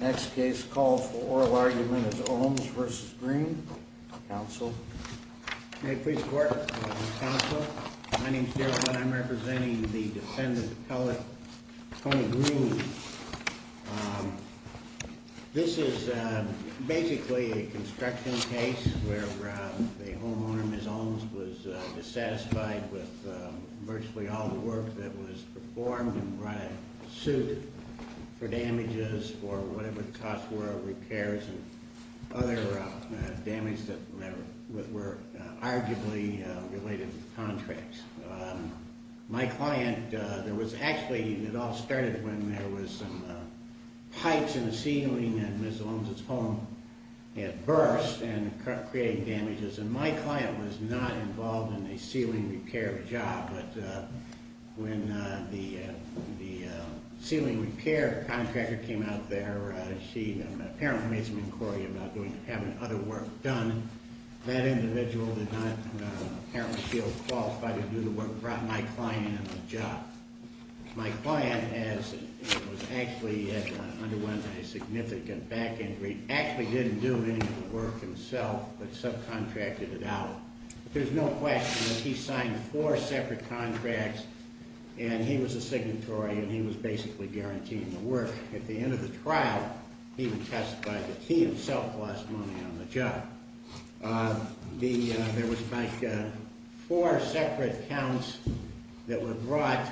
Next case called for oral argument is Ohms v. Green. Counsel. May it please the court. Counsel. My name is Daryl Hunt. I'm representing the defendant, Kelly Green. This is basically a construction case where the homeowner, Ms. Ohms, was dissatisfied with virtually all the work that was performed and brought a suit for damages or whatever the costs were, repairs and other damage that were arguably related to contracts. My client, there was actually, it all started when there was some pipes in the ceiling and Ms. Ohms' home had burst and created damages, and my client was not involved in a ceiling repair job. But when the ceiling repair contractor came out there, she apparently made some inquiry about having other work done. That individual did not apparently feel qualified to do the work and brought my client into the job. My client has actually underwent a significant back injury, actually didn't do any of the work himself, but subcontracted it out. There's no question that he signed four separate contracts and he was a signatory and he was basically guaranteeing the work. At the end of the trial, he even testified that he himself lost money on the job. There was like four separate counts that were brought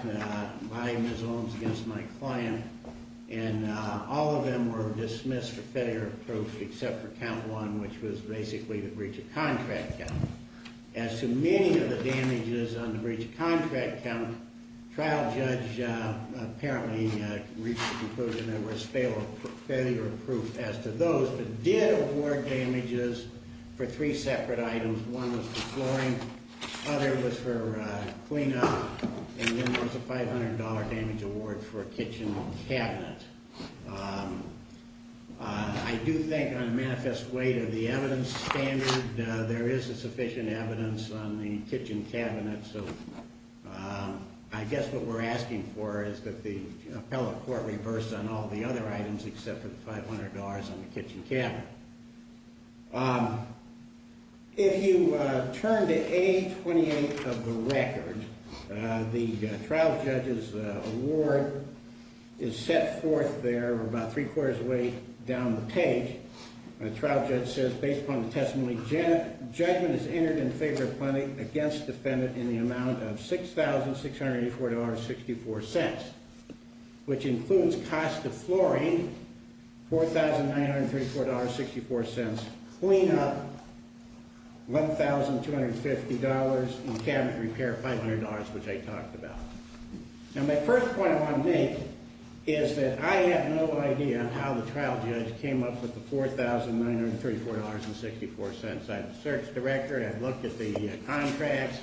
by Ms. Ohms against my client, and all of them were dismissed for failure of proof except for count one, which was basically the breach of contract count. As to many of the damages on the breach of contract count, trial judge apparently reached the conclusion there was failure of proof as to those, but did award damages for three separate items. One was for flooring, other was for cleanup, and then there was a $500 damage award for a kitchen cabinet. I do think on a manifest way to the evidence standard, there is a sufficient evidence on the kitchen cabinet, so I guess what we're asking for is that the appellate court reverse on all the other items except for the $500 on the kitchen cabinet. If you turn to A28 of the record, the trial judge's award is set forth there about three quarters of the way down the page. The trial judge says, based upon the testimony, judgment is entered in favor of plaintiff against defendant in the amount of $6,684.64, which includes cost of flooring, $4,934.64. Cleanup, $1,250, and cabinet repair, $500, which I talked about. Now, my first point I want to make is that I have no idea how the trial judge came up with the $4,934.64. I'm a search director. I've looked at the contracts.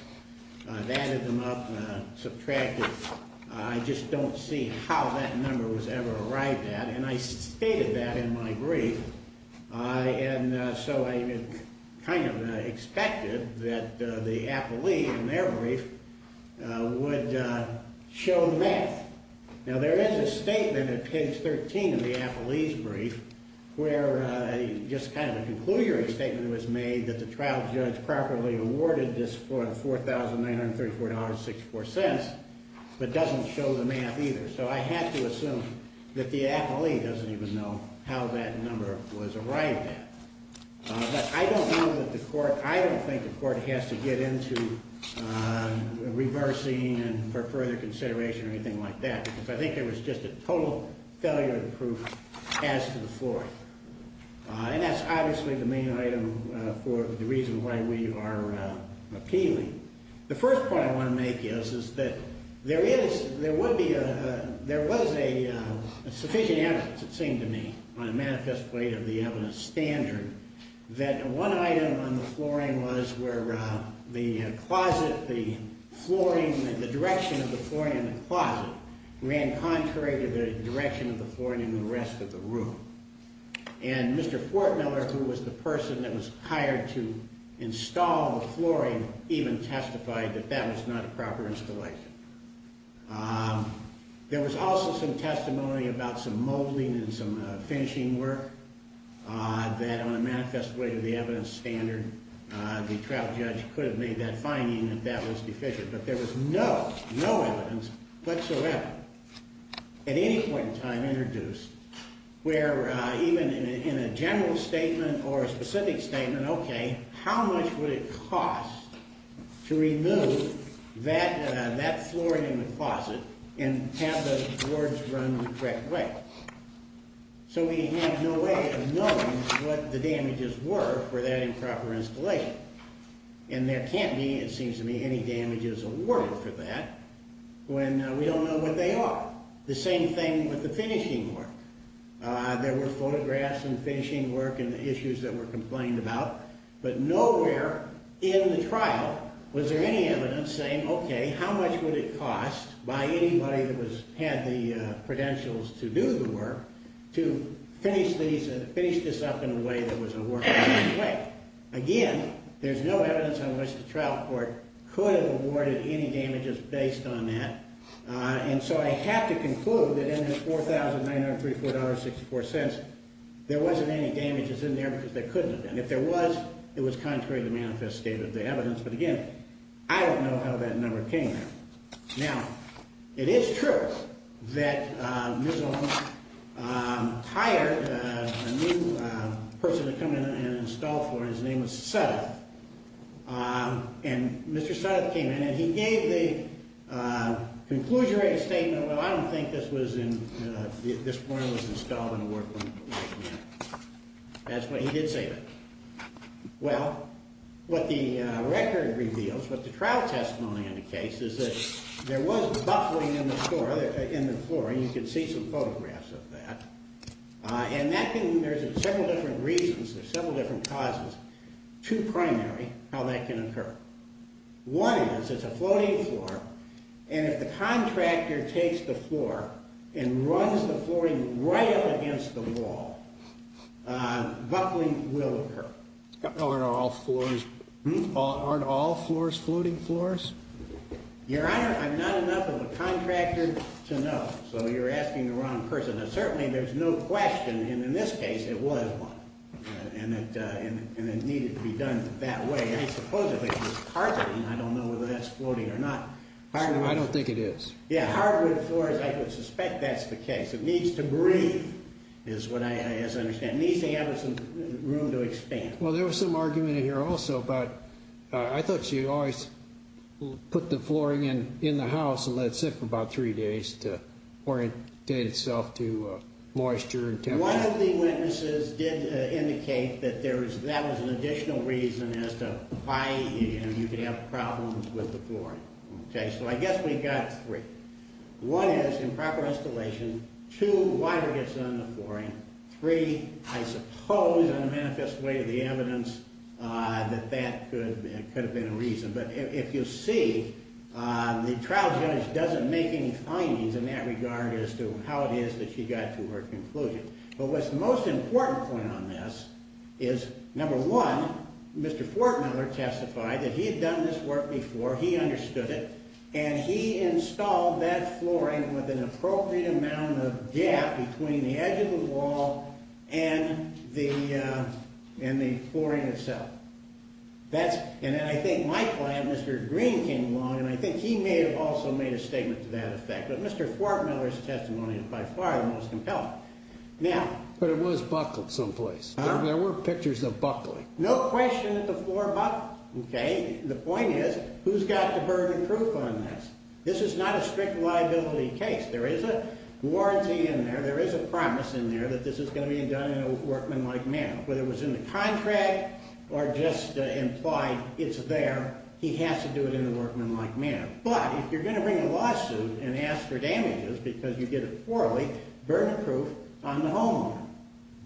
I've added them up and subtracted. I just don't see how that number was ever arrived at, and I stated that in my brief. And so I kind of expected that the appellee in their brief would show the math. Now, there is a statement at page 13 of the appellee's brief where just kind of a conclusion statement was made that the trial judge properly awarded this $4,934.64, but doesn't show the math either. So I had to assume that the appellee doesn't even know how that number was arrived at. But I don't know that the court, I don't think the court has to get into reversing for further consideration or anything like that, because I think there was just a total failure of the proof as to the floor. And that's obviously the main item for the reason why we are appealing. The first point I want to make is that there is, there would be, there was a sufficient evidence, it seemed to me, on a manifest plate of the evidence standard that one item on the flooring was where the closet, the flooring, the direction of the flooring in the closet ran contrary to the direction of the flooring in the rest of the room. And Mr. Fortmiller, who was the person that was hired to install the flooring, even testified that that was not a proper installation. There was also some testimony about some molding and some finishing work that on a manifest plate of the evidence standard, the trial judge could have made that finding that that was deficient. But there was no, no evidence whatsoever at any point in time introduced where even in a general statement or a specific statement, okay, how much would it cost to remove that flooring in the closet and have the boards run the correct way? So we have no way of knowing what the damages were for that improper installation. And there can't be, it seems to me, any damages awarded for that when we don't know what they are. The same thing with the finishing work. There were photographs and finishing work and the issues that were complained about. But nowhere in the trial was there any evidence saying, okay, how much would it cost by anybody that had the credentials to do the work to finish this up in a way that was a workable way. Again, there's no evidence on which the trial court could have awarded any damages based on that. And so I have to conclude that in this $4,903.64, there wasn't any damages in there because they couldn't have done it. If there was, it was contrary to the manifest statement of the evidence. But again, I don't know how that number came there. Now, it is true that Ms. Olmstead hired a new person to come in and install flooring. His name was Suttoth. And Mr. Suttoth came in and he gave the conclusionary statement, well, I don't think this flooring was installed in a workable way. That's what he did say. Well, what the record reveals, what the trial testimony indicates is that there was buffling in the flooring. You can see some photographs of that. And there's several different reasons, there's several different causes to primary how that can occur. One is it's a floating floor. And if the contractor takes the floor and runs the flooring right up against the wall, buffling will occur. Aren't all floors floating floors? Your Honor, I'm not enough of a contractor to know, so you're asking the wrong person. And certainly there's no question, and in this case, it was one. And it needed to be done that way. I suppose if it was carpeting, I don't know whether that's floating or not. I don't think it is. Yeah, hardwood floors, I would suspect that's the case. It needs to breathe, is what I understand. It needs to have some room to expand. Well, there was some argument in here also, but I thought you always put the flooring in the house and let it sit for about three days to orientate itself to moisture and temperature. One of the witnesses did indicate that that was an additional reason as to why you could have problems with the flooring. So I guess we've got three. One is improper installation. Two, water gets on the flooring. Three, I suppose in a manifest way to the evidence that that could have been a reason. But if you see, the trial judge doesn't make any findings in that regard as to how it is that she got to her conclusion. But what's the most important point on this is, number one, Mr. Fortmiller testified that he had done this work before. He understood it. And he installed that flooring with an appropriate amount of gap between the edge of the wall and the flooring itself. And then I think my client, Mr. Green, came along, and I think he may have also made a statement to that effect. But Mr. Fortmiller's testimony is by far the most compelling. But it was buckled someplace. There were pictures of buckling. No question that the floor buckled. The point is, who's got the burden of proof on this? This is not a strict liability case. There is a warranty in there. There is a promise in there that this is going to be done in a workmanlike manner. Whether it was in the contract or just implied, it's there. He has to do it in a workmanlike manner. But if you're going to bring a lawsuit and ask for damages because you did it poorly, burden of proof on the homeowner.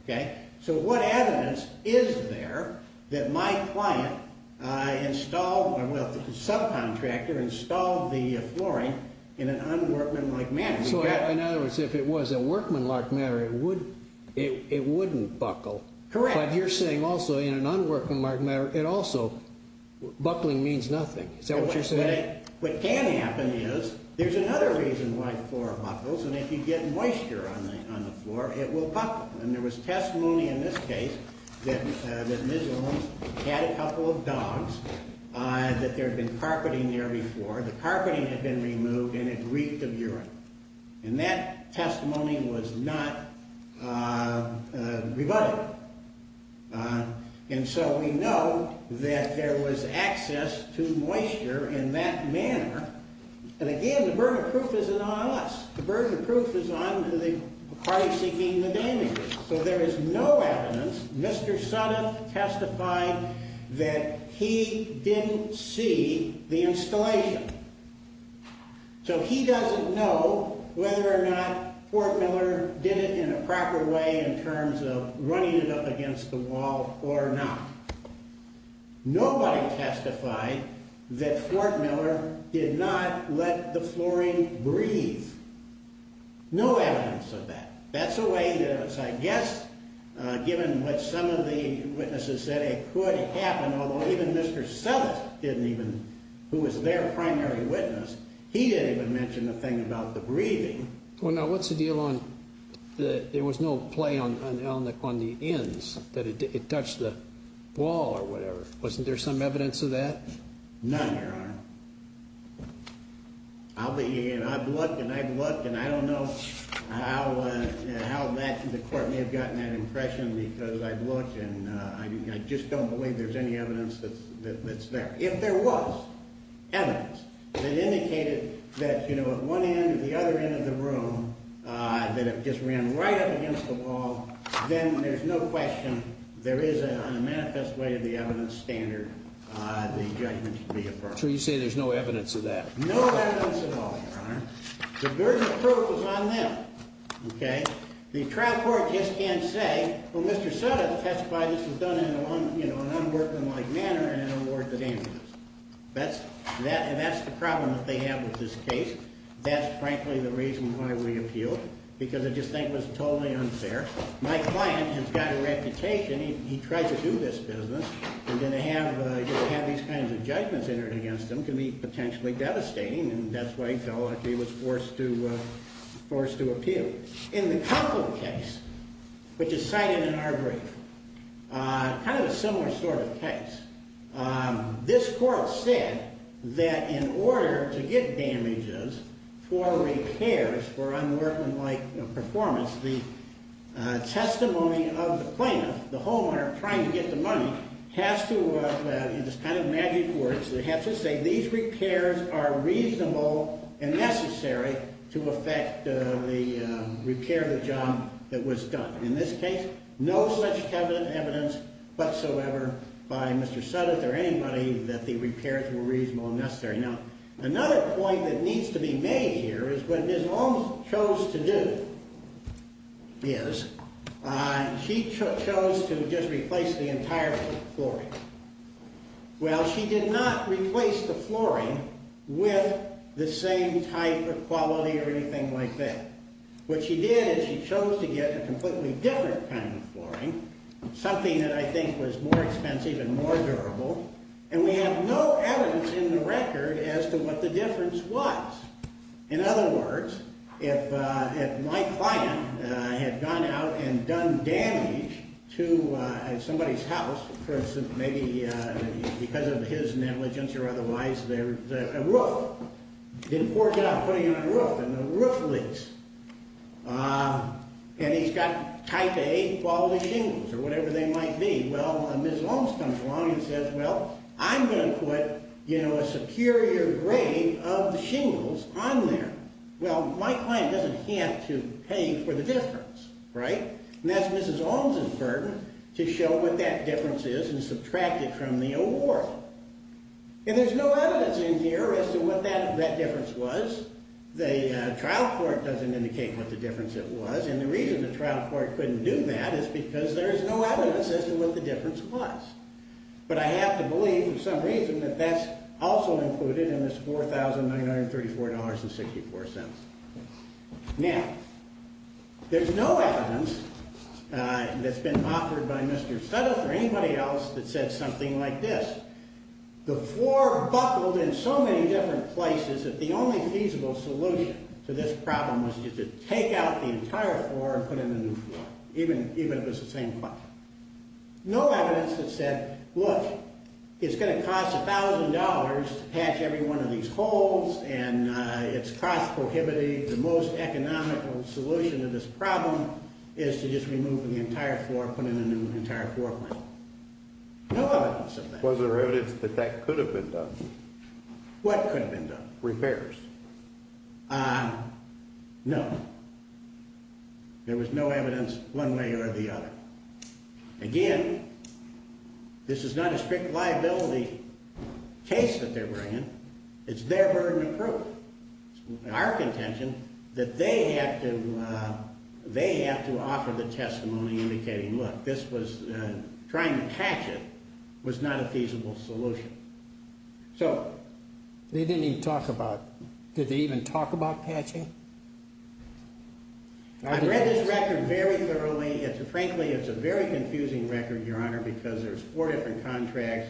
Okay? So what evidence is there that my client installed, well, the subcontractor installed the flooring in an unworkmanlike manner? So in other words, if it was a workmanlike manner, it wouldn't buckle. Correct. But you're saying also in an unworkmanlike manner, it also, buckling means nothing. Is that what you're saying? What can happen is, there's another reason why the floor buckles. And if you get moisture on the floor, it will buckle. And there was testimony in this case that this home had a couple of dogs, that there had been carpeting there before. And that testimony was not rebutted. And so we know that there was access to moisture in that manner. And again, the burden of proof isn't on us. The burden of proof is on the party seeking the damages. So there is no evidence. Mr. Suttoth testified that he didn't see the installation. So he doesn't know whether or not Fort Miller did it in a proper way in terms of running it up against the wall or not. Nobody testified that Fort Miller did not let the flooring breathe. No evidence of that. That's the way it is. I guess, given what some of the witnesses said, it could happen. Although even Mr. Suttoth didn't even, who was their primary witness, he didn't even mention a thing about the breathing. Well, now, what's the deal on, there was no play on the ends, that it touched the wall or whatever. Wasn't there some evidence of that? None, Your Honor. I've looked and I've looked, and I don't know how the court may have gotten that impression because I've looked, and I just don't believe there's any evidence that's there. If there was evidence that indicated that, you know, at one end or the other end of the room, that it just ran right up against the wall, then there's no question there is, on a manifest way of the evidence standard, the judgment should be affirmed. So you're not sure you say there's no evidence of that? No evidence at all, Your Honor. The burden of proof was on them, okay? The trial court just can't say, well, Mr. Suttoth testified this was done in an unworkmanlike manner and it didn't work at all. That's the problem that they have with this case. That's, frankly, the reason why we appealed, because I just think it was totally unfair. My client has got a reputation, he tried to do this business, and then to have these kinds of judgments entered against him can be potentially devastating, and that's why he was forced to appeal. In the Cufflin case, which is cited in our brief, kind of a similar sort of case, this court said that in order to get damages for repairs for unworkmanlike performance, the testimony of the plaintiff, the homeowner trying to get the money, has to, in this kind of magic words, has to say these repairs are reasonable and necessary to affect the repair of the job that was done. In this case, no such evidence whatsoever by Mr. Suttoth or anybody that the repairs were reasonable and necessary. Now, another point that needs to be made here is what Ms. Long chose to do is, she chose to just replace the entire flooring. Well, she did not replace the flooring with the same type of quality or anything like that. What she did is she chose to get a completely different kind of flooring, something that I think was more expensive and more durable, and we have no evidence in the record as to what the difference was. In other words, if my client had gone out and done damage to somebody's house, for instance, maybe because of his negligence or otherwise, there was a roof. He didn't force it on putting in a roof, and the roof leaks. And he's got type A quality shingles or whatever they might be. Well, Ms. Long comes along and says, well, I'm going to put a superior grade of shingles on there. Well, my client doesn't have to pay for the difference, right? And that's Ms. Long's burden to show what that difference is and subtract it from the award. And there's no evidence in here as to what that difference was. The trial court doesn't indicate what the difference it was, and the reason the trial court couldn't do that is because there is no evidence as to what the difference was. But I have to believe for some reason that that's also included in this $4,934.64. Now, there's no evidence that's been offered by Mr. Suttles or anybody else that said something like this. The floor buckled in so many different places that the only feasible solution to this problem was to take out the entire floor and put in a new floor, even if it's the same client. No evidence that said, look, it's going to cost $1,000 to patch every one of these holes, and it's cost prohibitive. The most economical solution to this problem is to just remove the entire floor and put in a new entire floor plan. No evidence of that. Was there evidence that that could have been done? What could have been done? Repairs. No. There was no evidence one way or the other. Again, this is not a strict liability case that they're bringing. It's their burden of proof. It's our contention that they have to offer the testimony indicating, look, trying to patch it was not a feasible solution. They didn't even talk about it. Did they even talk about patching? I've read this record very thoroughly. Frankly, it's a very confusing record, Your Honor, because there's four different contracts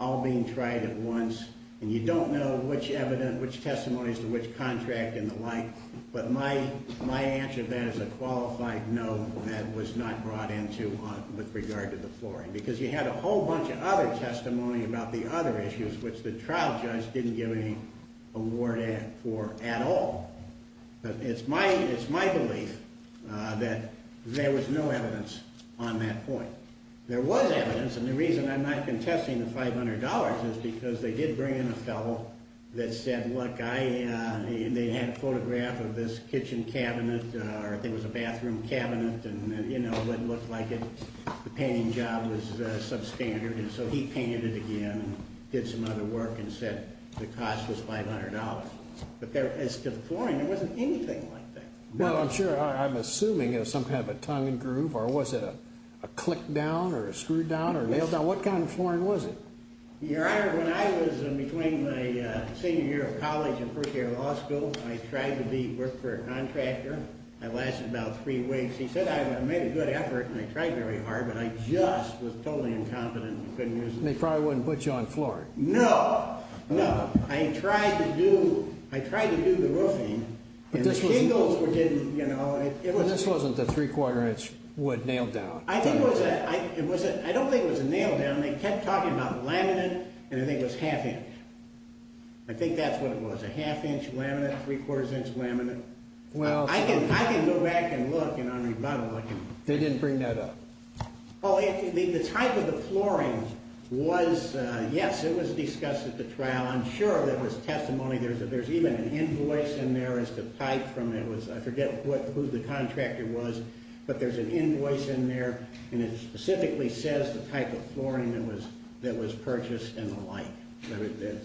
all being tried at once, and you don't know which testimonies to which contract and the like. But my answer to that is a qualified no. That was not brought into with regard to the flooring, because you had a whole bunch of other testimony about the other issues, which the trial judge didn't give any award for at all. It's my belief that there was no evidence on that point. There was evidence, and the reason I'm not contesting the $500 is because they did bring in a fellow that said, look, they had a photograph of this kitchen cabinet, or I think it was a bathroom cabinet, and it looked like the painting job was substandard, and so he painted it again and did some other work and said the cost was $500. But as to the flooring, there wasn't anything like that. Well, I'm assuming it was some kind of a tongue and groove, or was it a click down or a screw down or a nail down? What kind of flooring was it? Your Honor, when I was in between my senior year of college and first year of law school, I tried to work for a contractor. I lasted about three weeks. He said I made a good effort, and I tried very hard, but I just was totally incompetent and couldn't use it. They probably wouldn't put you on flooring. No, no. I tried to do the roofing, and the shingles were getting, you know. But this wasn't the three-quarter-inch wood nail down. I don't think it was a nail down. They kept talking about laminate, and I think it was half-inch. I think that's what it was, a half-inch laminate, three-quarters-inch laminate. I can go back and look, and on rebuttal I can. They didn't bring that up. Oh, the type of the flooring was, yes, it was discussed at the trial. I'm sure there was testimony. There's even an invoice in there as to type from it. I forget who the contractor was, but there's an invoice in there, and it specifically says the type of flooring that was purchased and the like.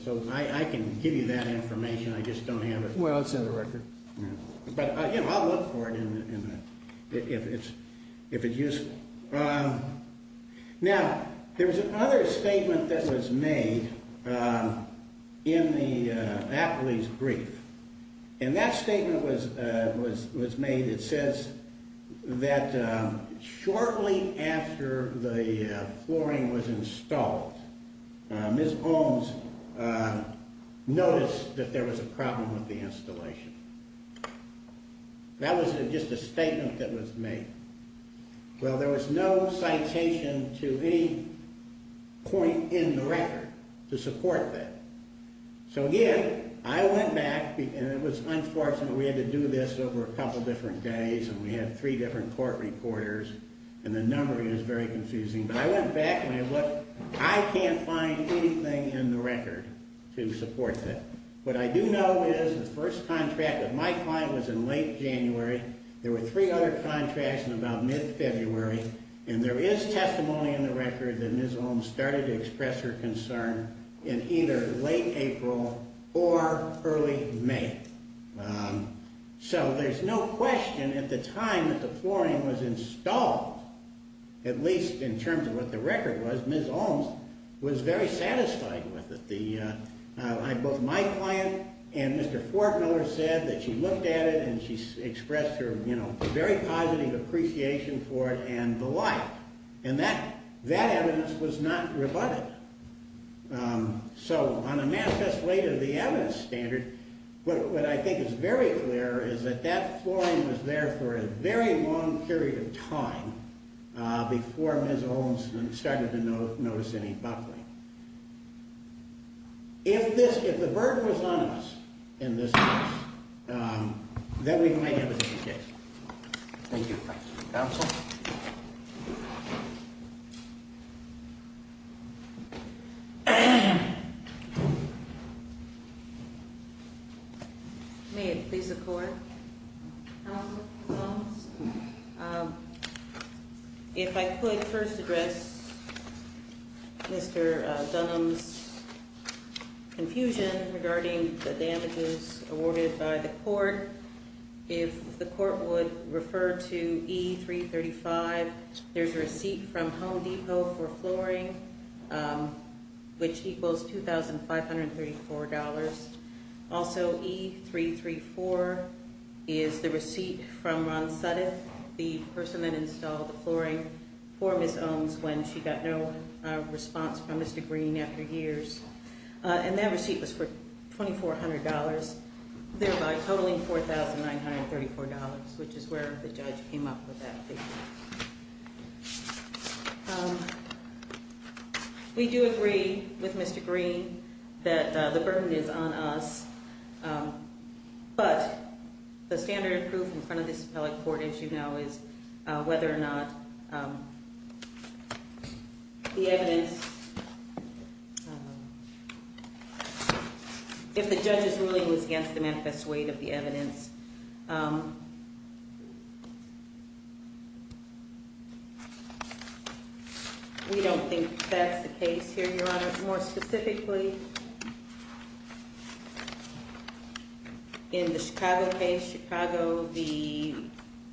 So I can give you that information. I just don't have it. Well, it's in the record. But, you know, I'll look for it if it's useful. Now, there was another statement that was made in the appellee's brief, and that statement was made. It says that shortly after the flooring was installed, Ms. Holmes noticed that there was a problem with the installation. That was just a statement that was made. Well, there was no citation to any point in the record to support that. So, again, I went back, and it was unfortunate. We had to do this over a couple different days, and we had three different court reporters, and the number is very confusing. But I went back and I looked. I can't find anything in the record to support that. What I do know is the first contract that Mike filed was in late January. There were three other contracts in about mid-February, and there is testimony in the record that Ms. Holmes started to express her concern in either late April or early May. So there's no question at the time that the flooring was installed, at least in terms of what the record was, Ms. Holmes was very satisfied with it. Both my client and Mr. Fortmiller said that she looked at it and she expressed her, you know, very positive appreciation for it and the like. And that evidence was not rebutted. So on a manifest way to the evidence standard, what I think is very clear is that that flooring was there for a very long period of time before Ms. Holmes started to notice any buckling. If the burden was on us in this case, then we might have it in this case. Thank you. Counsel? May it please the Court, Mr. Holmes? If I could first address Mr. Dunham's confusion regarding the damages awarded by the court. If the court would refer to E-335, there's a receipt from Home Depot for flooring, which equals $2,534. Also, E-334 is the receipt from Ron Suddeth, the person that installed the flooring for Ms. Holmes when she got no response from Mr. Green after years. And that receipt was for $2,400, thereby totaling $4,934, which is where the judge came up with that. We do agree with Mr. Green that the burden is on us, but the standard of proof in front of this appellate court, as you know, is whether or not the evidence, if the judge's ruling was against the manifest weight of the evidence. We don't think that's the case here, Your Honor. More specifically, in the Chicago case,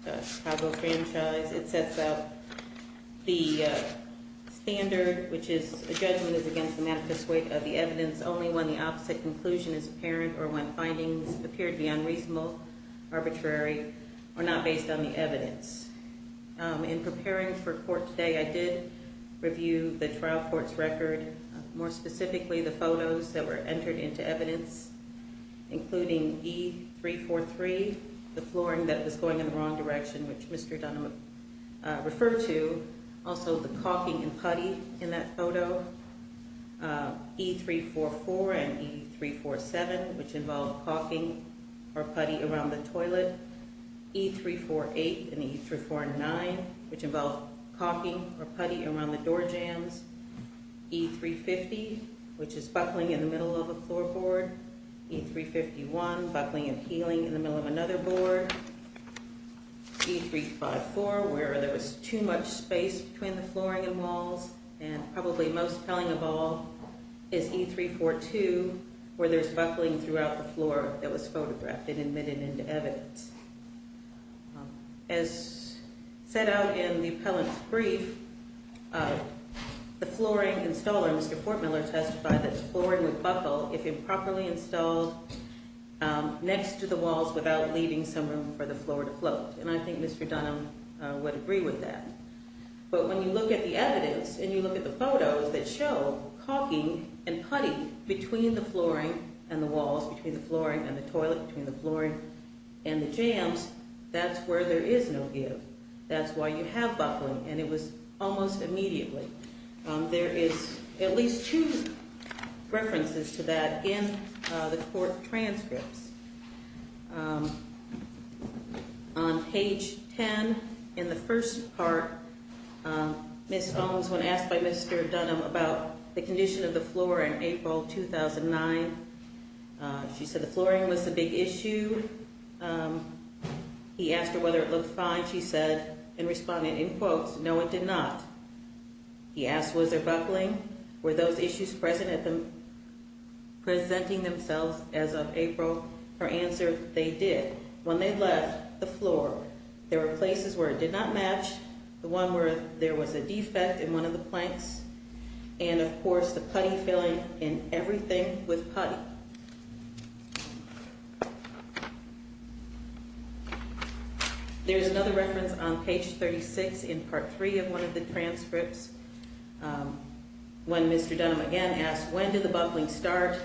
the Chicago franchise, it sets out the standard, which is a judgment is against the manifest weight of the evidence only when the opposite conclusion is apparent or when findings appear to be unreasonable, arbitrary, or not based on the evidence. In preparing for court today, I did review the trial court's record, and more specifically, the photos that were entered into evidence, including E343, the flooring that was going in the wrong direction, which Mr. Dunham referred to, also the caulking and putty in that photo, E344 and E347, which involved caulking or putty around the toilet, E348 and E349, which involved caulking or putty around the door jams, E350, which is buckling in the middle of a floorboard, E351, buckling and peeling in the middle of another board, E354, where there was too much space between the flooring and walls, and probably most telling of all is E342, where there's buckling throughout the floor that was photographed and admitted into evidence. As set out in the appellant's brief, the flooring installer, Mr. Fortmiller, testified that the flooring would buckle if improperly installed next to the walls without leaving some room for the floor to float, and I think Mr. Dunham would agree with that. But when you look at the evidence and you look at the photos that show caulking and putty between the flooring and the walls, between the flooring and the toilet, between the flooring and the jams, that's where there is no give. That's why you have buckling, and it was almost immediately. There is at least two references to that in the court transcripts. On page 10, in the first part, Ms. Holmes, when asked by Mr. Dunham about the condition of the floor in April 2009, she said the flooring was a big issue. He asked her whether it looked fine. She said in response, in quotes, no, it did not. He asked was there buckling, were those issues presenting themselves as of April. Her answer, they did. When they left the floor, there were places where it did not match, the one where there was a defect in one of the planks, and of course the putty filling in everything with putty. There is another reference on page 36 in part 3 of one of the transcripts when Mr. Dunham again asked when did the buckling start.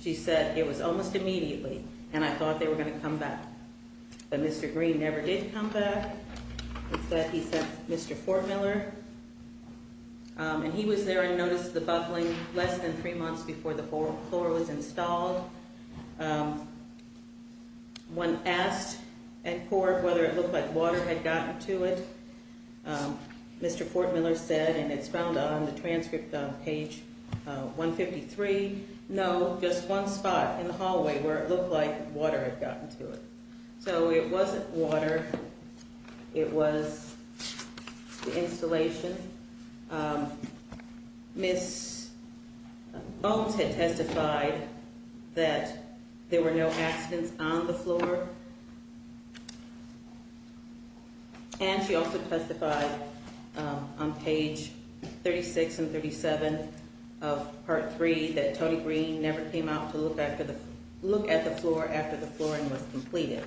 She said it was almost immediately, and I thought they were going to come back, but Mr. Green never did come back. Instead he sent Mr. Fortmiller, and he was there and noticed the buckling less than three months before the floor was installed. When asked at court whether it looked like water had gotten to it, Mr. Fortmiller said, and it's found on the transcript on page 153, no, just one spot in the hallway where it looked like water had gotten to it. So it wasn't water, it was the installation. Ms. Bones had testified that there were no accidents on the floor, and she also testified on page 36 and 37 of part 3 that Tony Green never came out to look at the floor after the flooring was completed.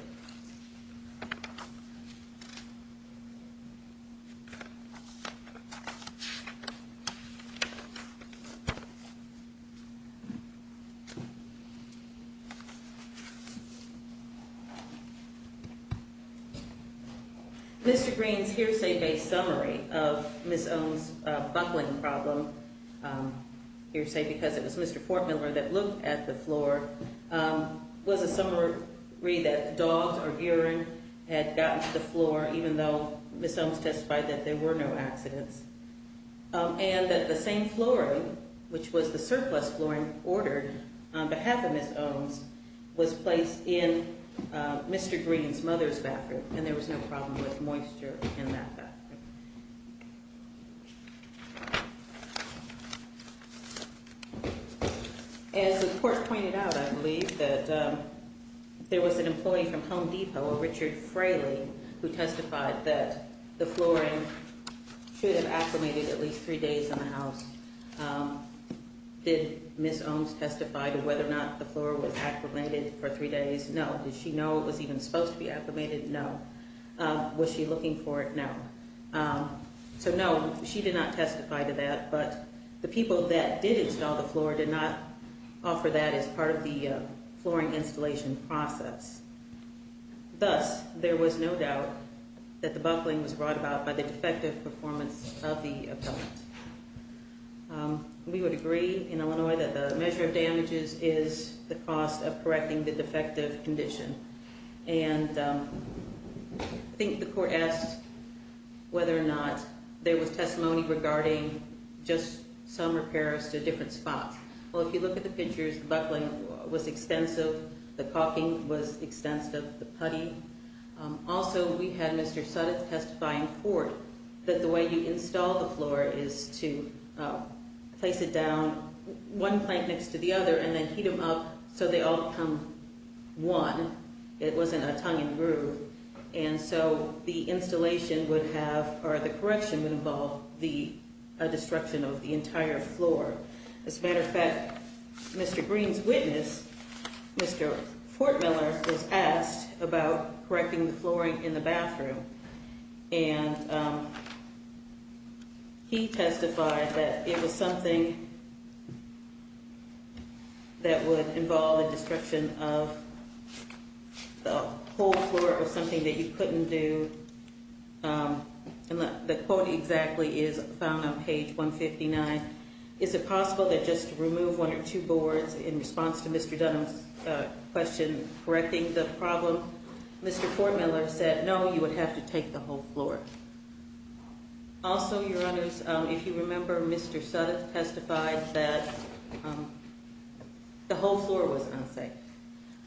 Mr. Green's hearsay-based summary of Ms. Bones' buckling problem hearsay because it was Mr. Fortmiller that looked at the floor was a summary that dogs or urine had gotten to the floor, even though Ms. Bones testified that there were no accidents, and that the same flooring, which was the surplus flooring ordered on behalf of Ms. Bones, was placed in Mr. Green's mother's bathroom, and there was no problem with moisture in that bathroom. As the court pointed out, I believe that there was an employee from Home Depot, Richard Fraley, who testified that the flooring should have acclimated at least three days in the house. Did Ms. Bones testify to whether or not the floor was acclimated for three days? No. Did she know it was even supposed to be acclimated? No. Was she looking for it? No. So no, she did not testify to that, but the people that did install the floor did not offer that as part of the flooring installation process. Thus, there was no doubt that the buckling was brought about by the defective performance of the appellant. We would agree in Illinois that the measure of damages is the cost of correcting the defective condition, and I think the court asked whether or not there was testimony regarding just some repairs to different spots. Well, if you look at the pictures, the buckling was extensive, the caulking was extensive, the putty. Also, we had Mr. Suttis testify in court that the way you install the floor is to place it down one plank next to the other and then heat them up so they all come one. It wasn't a tongue and groove, and so the installation would have, or the correction would involve the destruction of the entire floor. As a matter of fact, Mr. Green's witness, Mr. Fortmiller, was asked about correcting the flooring in the bathroom, and he testified that it was something that would involve the destruction of the whole floor or something that you couldn't do. The quote exactly is found on page 159. Is it possible that just to remove one or two boards in response to Mr. Dunham's question correcting the problem, Mr. Fortmiller said, no, you would have to take the whole floor? Also, Your Honors, if you remember, Mr. Suttis testified that the whole floor was unsafe.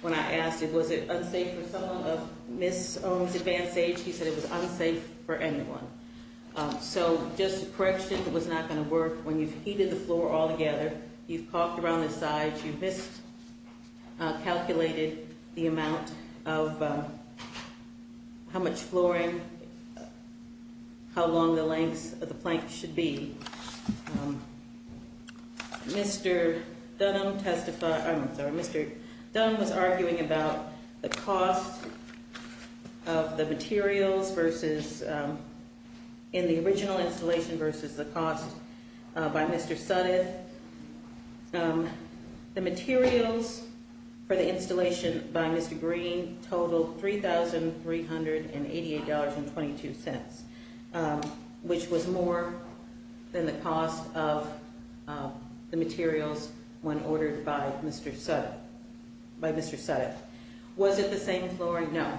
When I asked, was it unsafe for someone of Ms. Ohm's advanced age, he said it was unsafe for anyone. So just a correction was not going to work when you've heated the floor all together, you've caulked around the sides, you've miscalculated the amount of how much flooring, how long the lengths of the planks should be. Mr. Dunham testified, I'm sorry, Mr. Dunham was in the original installation versus the cost by Mr. Suttis. The materials for the installation by Mr. Green totaled $3,388.22, which was more than the cost of the materials when ordered by Mr. Suttis. Was it the same flooring? No.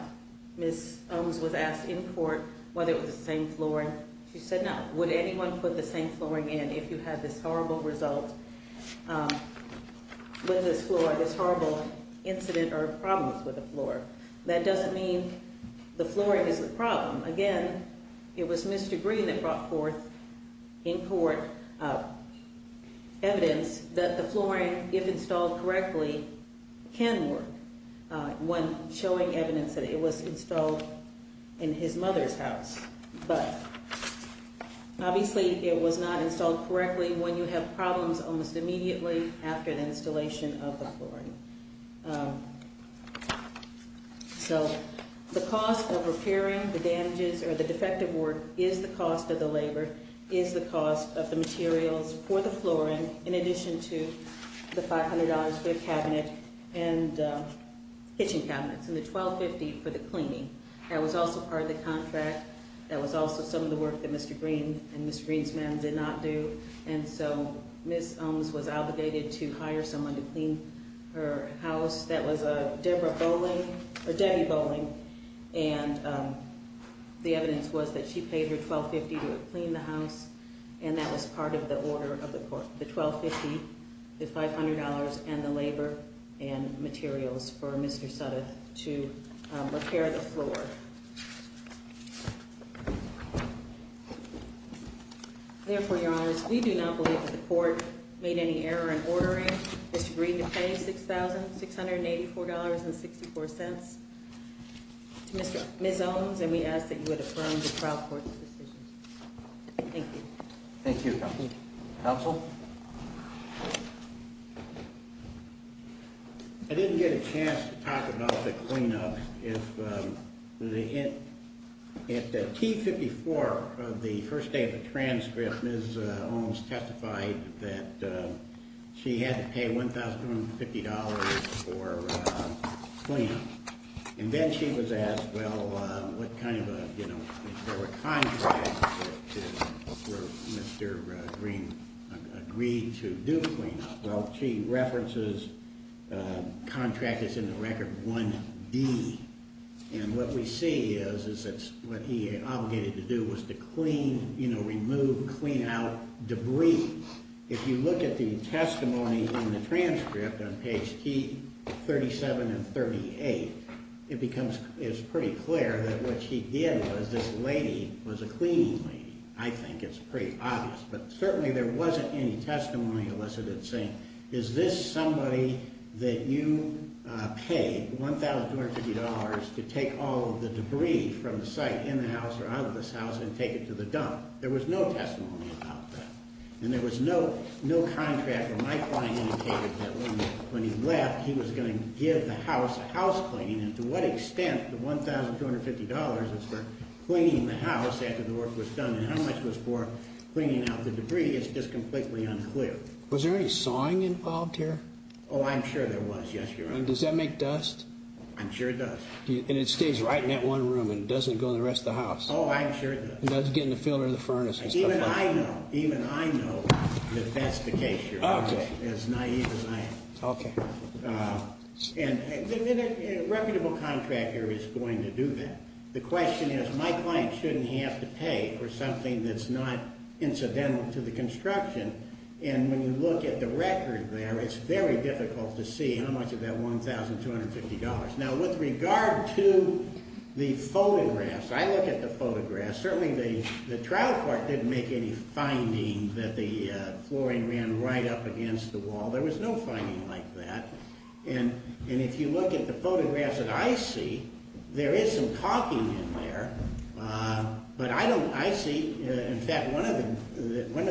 Ms. Ohm's was asked in court whether it was the same flooring. She said no. Would anyone put the same flooring in if you had this horrible result with this floor, this horrible incident or problems with the floor? That doesn't mean the flooring is the problem. Again, it was Mr. Green that brought forth in court evidence that the flooring, if installed correctly, can work when showing evidence that it was installed in his mother's house, but obviously it was not installed correctly when you have problems almost immediately after the installation of the flooring. The cost of repairing the damages or the defective work is the cost of the labor, is the cost of the materials for the flooring in addition to the $500 for the kitchen cabinets and the $1,250 for the cleaning. That was also part of the contract. That was also some of the work that Mr. Green and her house, that was Debbie Bowling, and the evidence was that she paid her $1,250 to clean the house and that was part of the order of the court. The $1,250, the $500 and the labor and materials for Mr. Suttis to repair the floor. Therefore, Your Honor, we do not believe that the court made any error in ordering Mr. Green to pay $6,684.64 to Ms. Owens and we ask that you would affirm the trial court's decision. Thank you. Thank you, Counsel. Counsel? I didn't get a chance to talk about the cleanup. At T-54, the first day of the transcript, Ms. Owens testified that she had to pay $1,250 for cleanup. And then she was asked, well, what kind of a contract did Mr. Green agree to do cleanup? Well, she references a contract that's in the Record 1-D. And what we see is that what he obligated to do was to clean, you know, remove, clean out debris. If you look at the testimony in the transcript on page 37 and 38, it becomes pretty clear that what she did was this lady was a cleaning lady. I think it's pretty obvious. But certainly there wasn't any testimony elicited saying, is this somebody that you paid $1,250 to take all of the debris from the site in the house or out of this house and take it to the dump? There was no testimony about that. And there was no contract where my client indicated that when he left, he was going to give the house a house cleaning. And to what extent the $1,250 is for cleaning the house after the work was done and how much was for cleaning out the debris is just completely unclear. Was there any sawing involved here? Oh, I'm sure there was, yes, Your Honor. And does that make dust? I'm sure it does. And it stays right in that one room and doesn't go in the rest of the house. Oh, I'm sure it does. It doesn't get in the field or the furnace. Even I know that that's the case, Your Honor, as naive as I am. And a reputable contractor is going to do that. The question is, my client shouldn't have to pay for something that's not incidental to the construction. And when you look at the record there, it's very difficult to see how much of that $1,250. Now, with regard to the photographs, I look at the photographs. Certainly the trial court didn't make any finding that the flooring ran right up against the wall. There was no finding like that. And if you look at the photographs that I see, there is some caulking in there. But I see, in fact, one of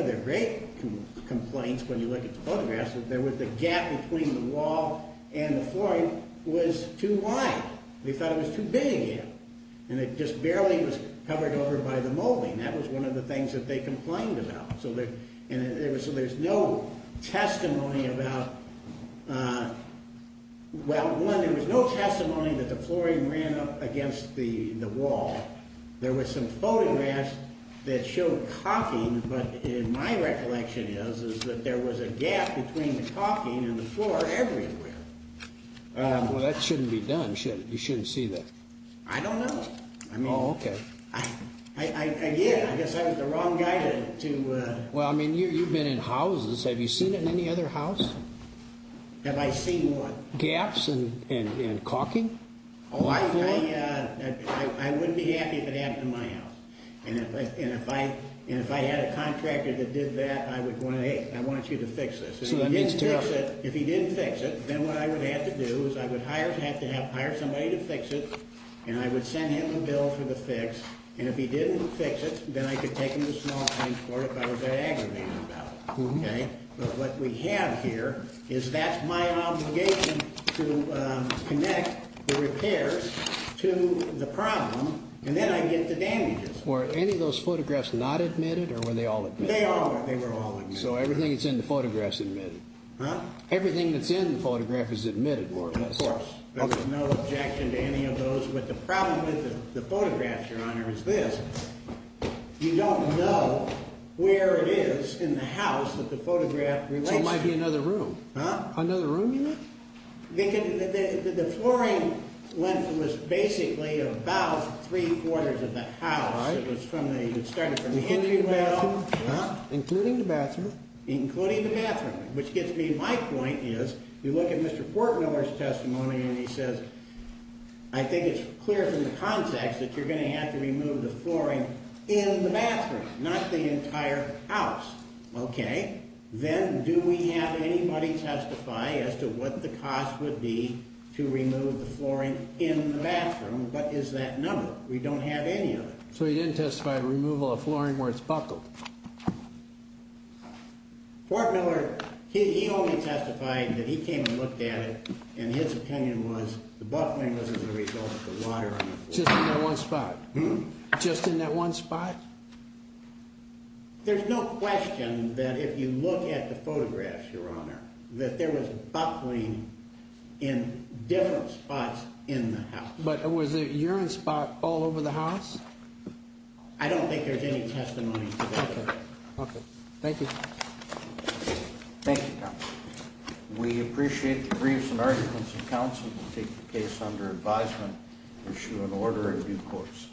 the great complaints when you look at the photographs is there was a gap between the wall and the flooring was too wide. They thought it was too big. And it just barely was covered over by the molding. That was one of the things that they complained about. So there's no testimony about Well, one, there was no testimony that the flooring ran up against the wall. There was some photographs that showed caulking, but my recollection is that there was a gap between the caulking and the floor everywhere. Well, that shouldn't be done. You shouldn't see that. I don't know. Oh, okay. I guess I was the wrong guy to Well, I mean, you've been in houses. Have you seen it in any other house? Have I seen what? Gaps in caulking? Oh, I wouldn't be happy if it happened in my house. And if I had a contractor that did that, I would want you to fix this. If he didn't fix it, then what I would have to do is I would have to hire somebody to fix it and I would send him a bill for the fix. And if he didn't fix it, then I could take him to small if I was that aggravated about it. But what we have here is that's my obligation to connect the repairs to the problem and then I get the damages. Were any of those photographs not admitted or were they all? They were all. So everything that's in the photograph is admitted. Everything that's in the photograph is admitted. There was no objection to any of those. But the problem with the photographs, Your Honor, is this. You don't know where it is in the house that the photograph relates to. So it might be another room. Another room? The flooring was basically about three quarters of the house. It started from the entryway. Including the bathroom? Including the bathroom. Which gets me. My point is, you look at Mr. Portmiller's testimony and he says, I think it's clear from the context that you're going to have to remove the flooring in the bathroom, not the entire house. Okay? Then do we have anybody testify as to what the cost would be to remove the flooring in the bathroom? What is that number? We don't have any of it. So he didn't testify to removal of flooring where it's buckled. Portmiller, he only testified that he came and looked at it and his was buckling in one spot? There's no question that if you look at the photographs, Your Honor, that there was buckling in different spots in the house. But was it urine spots all over the house? I don't think there's any testimony to that. Okay. Thank you. Thank you, Counsel. We appreciate the briefs and arguments and counsel to take the case under advisement and issue an order in due course.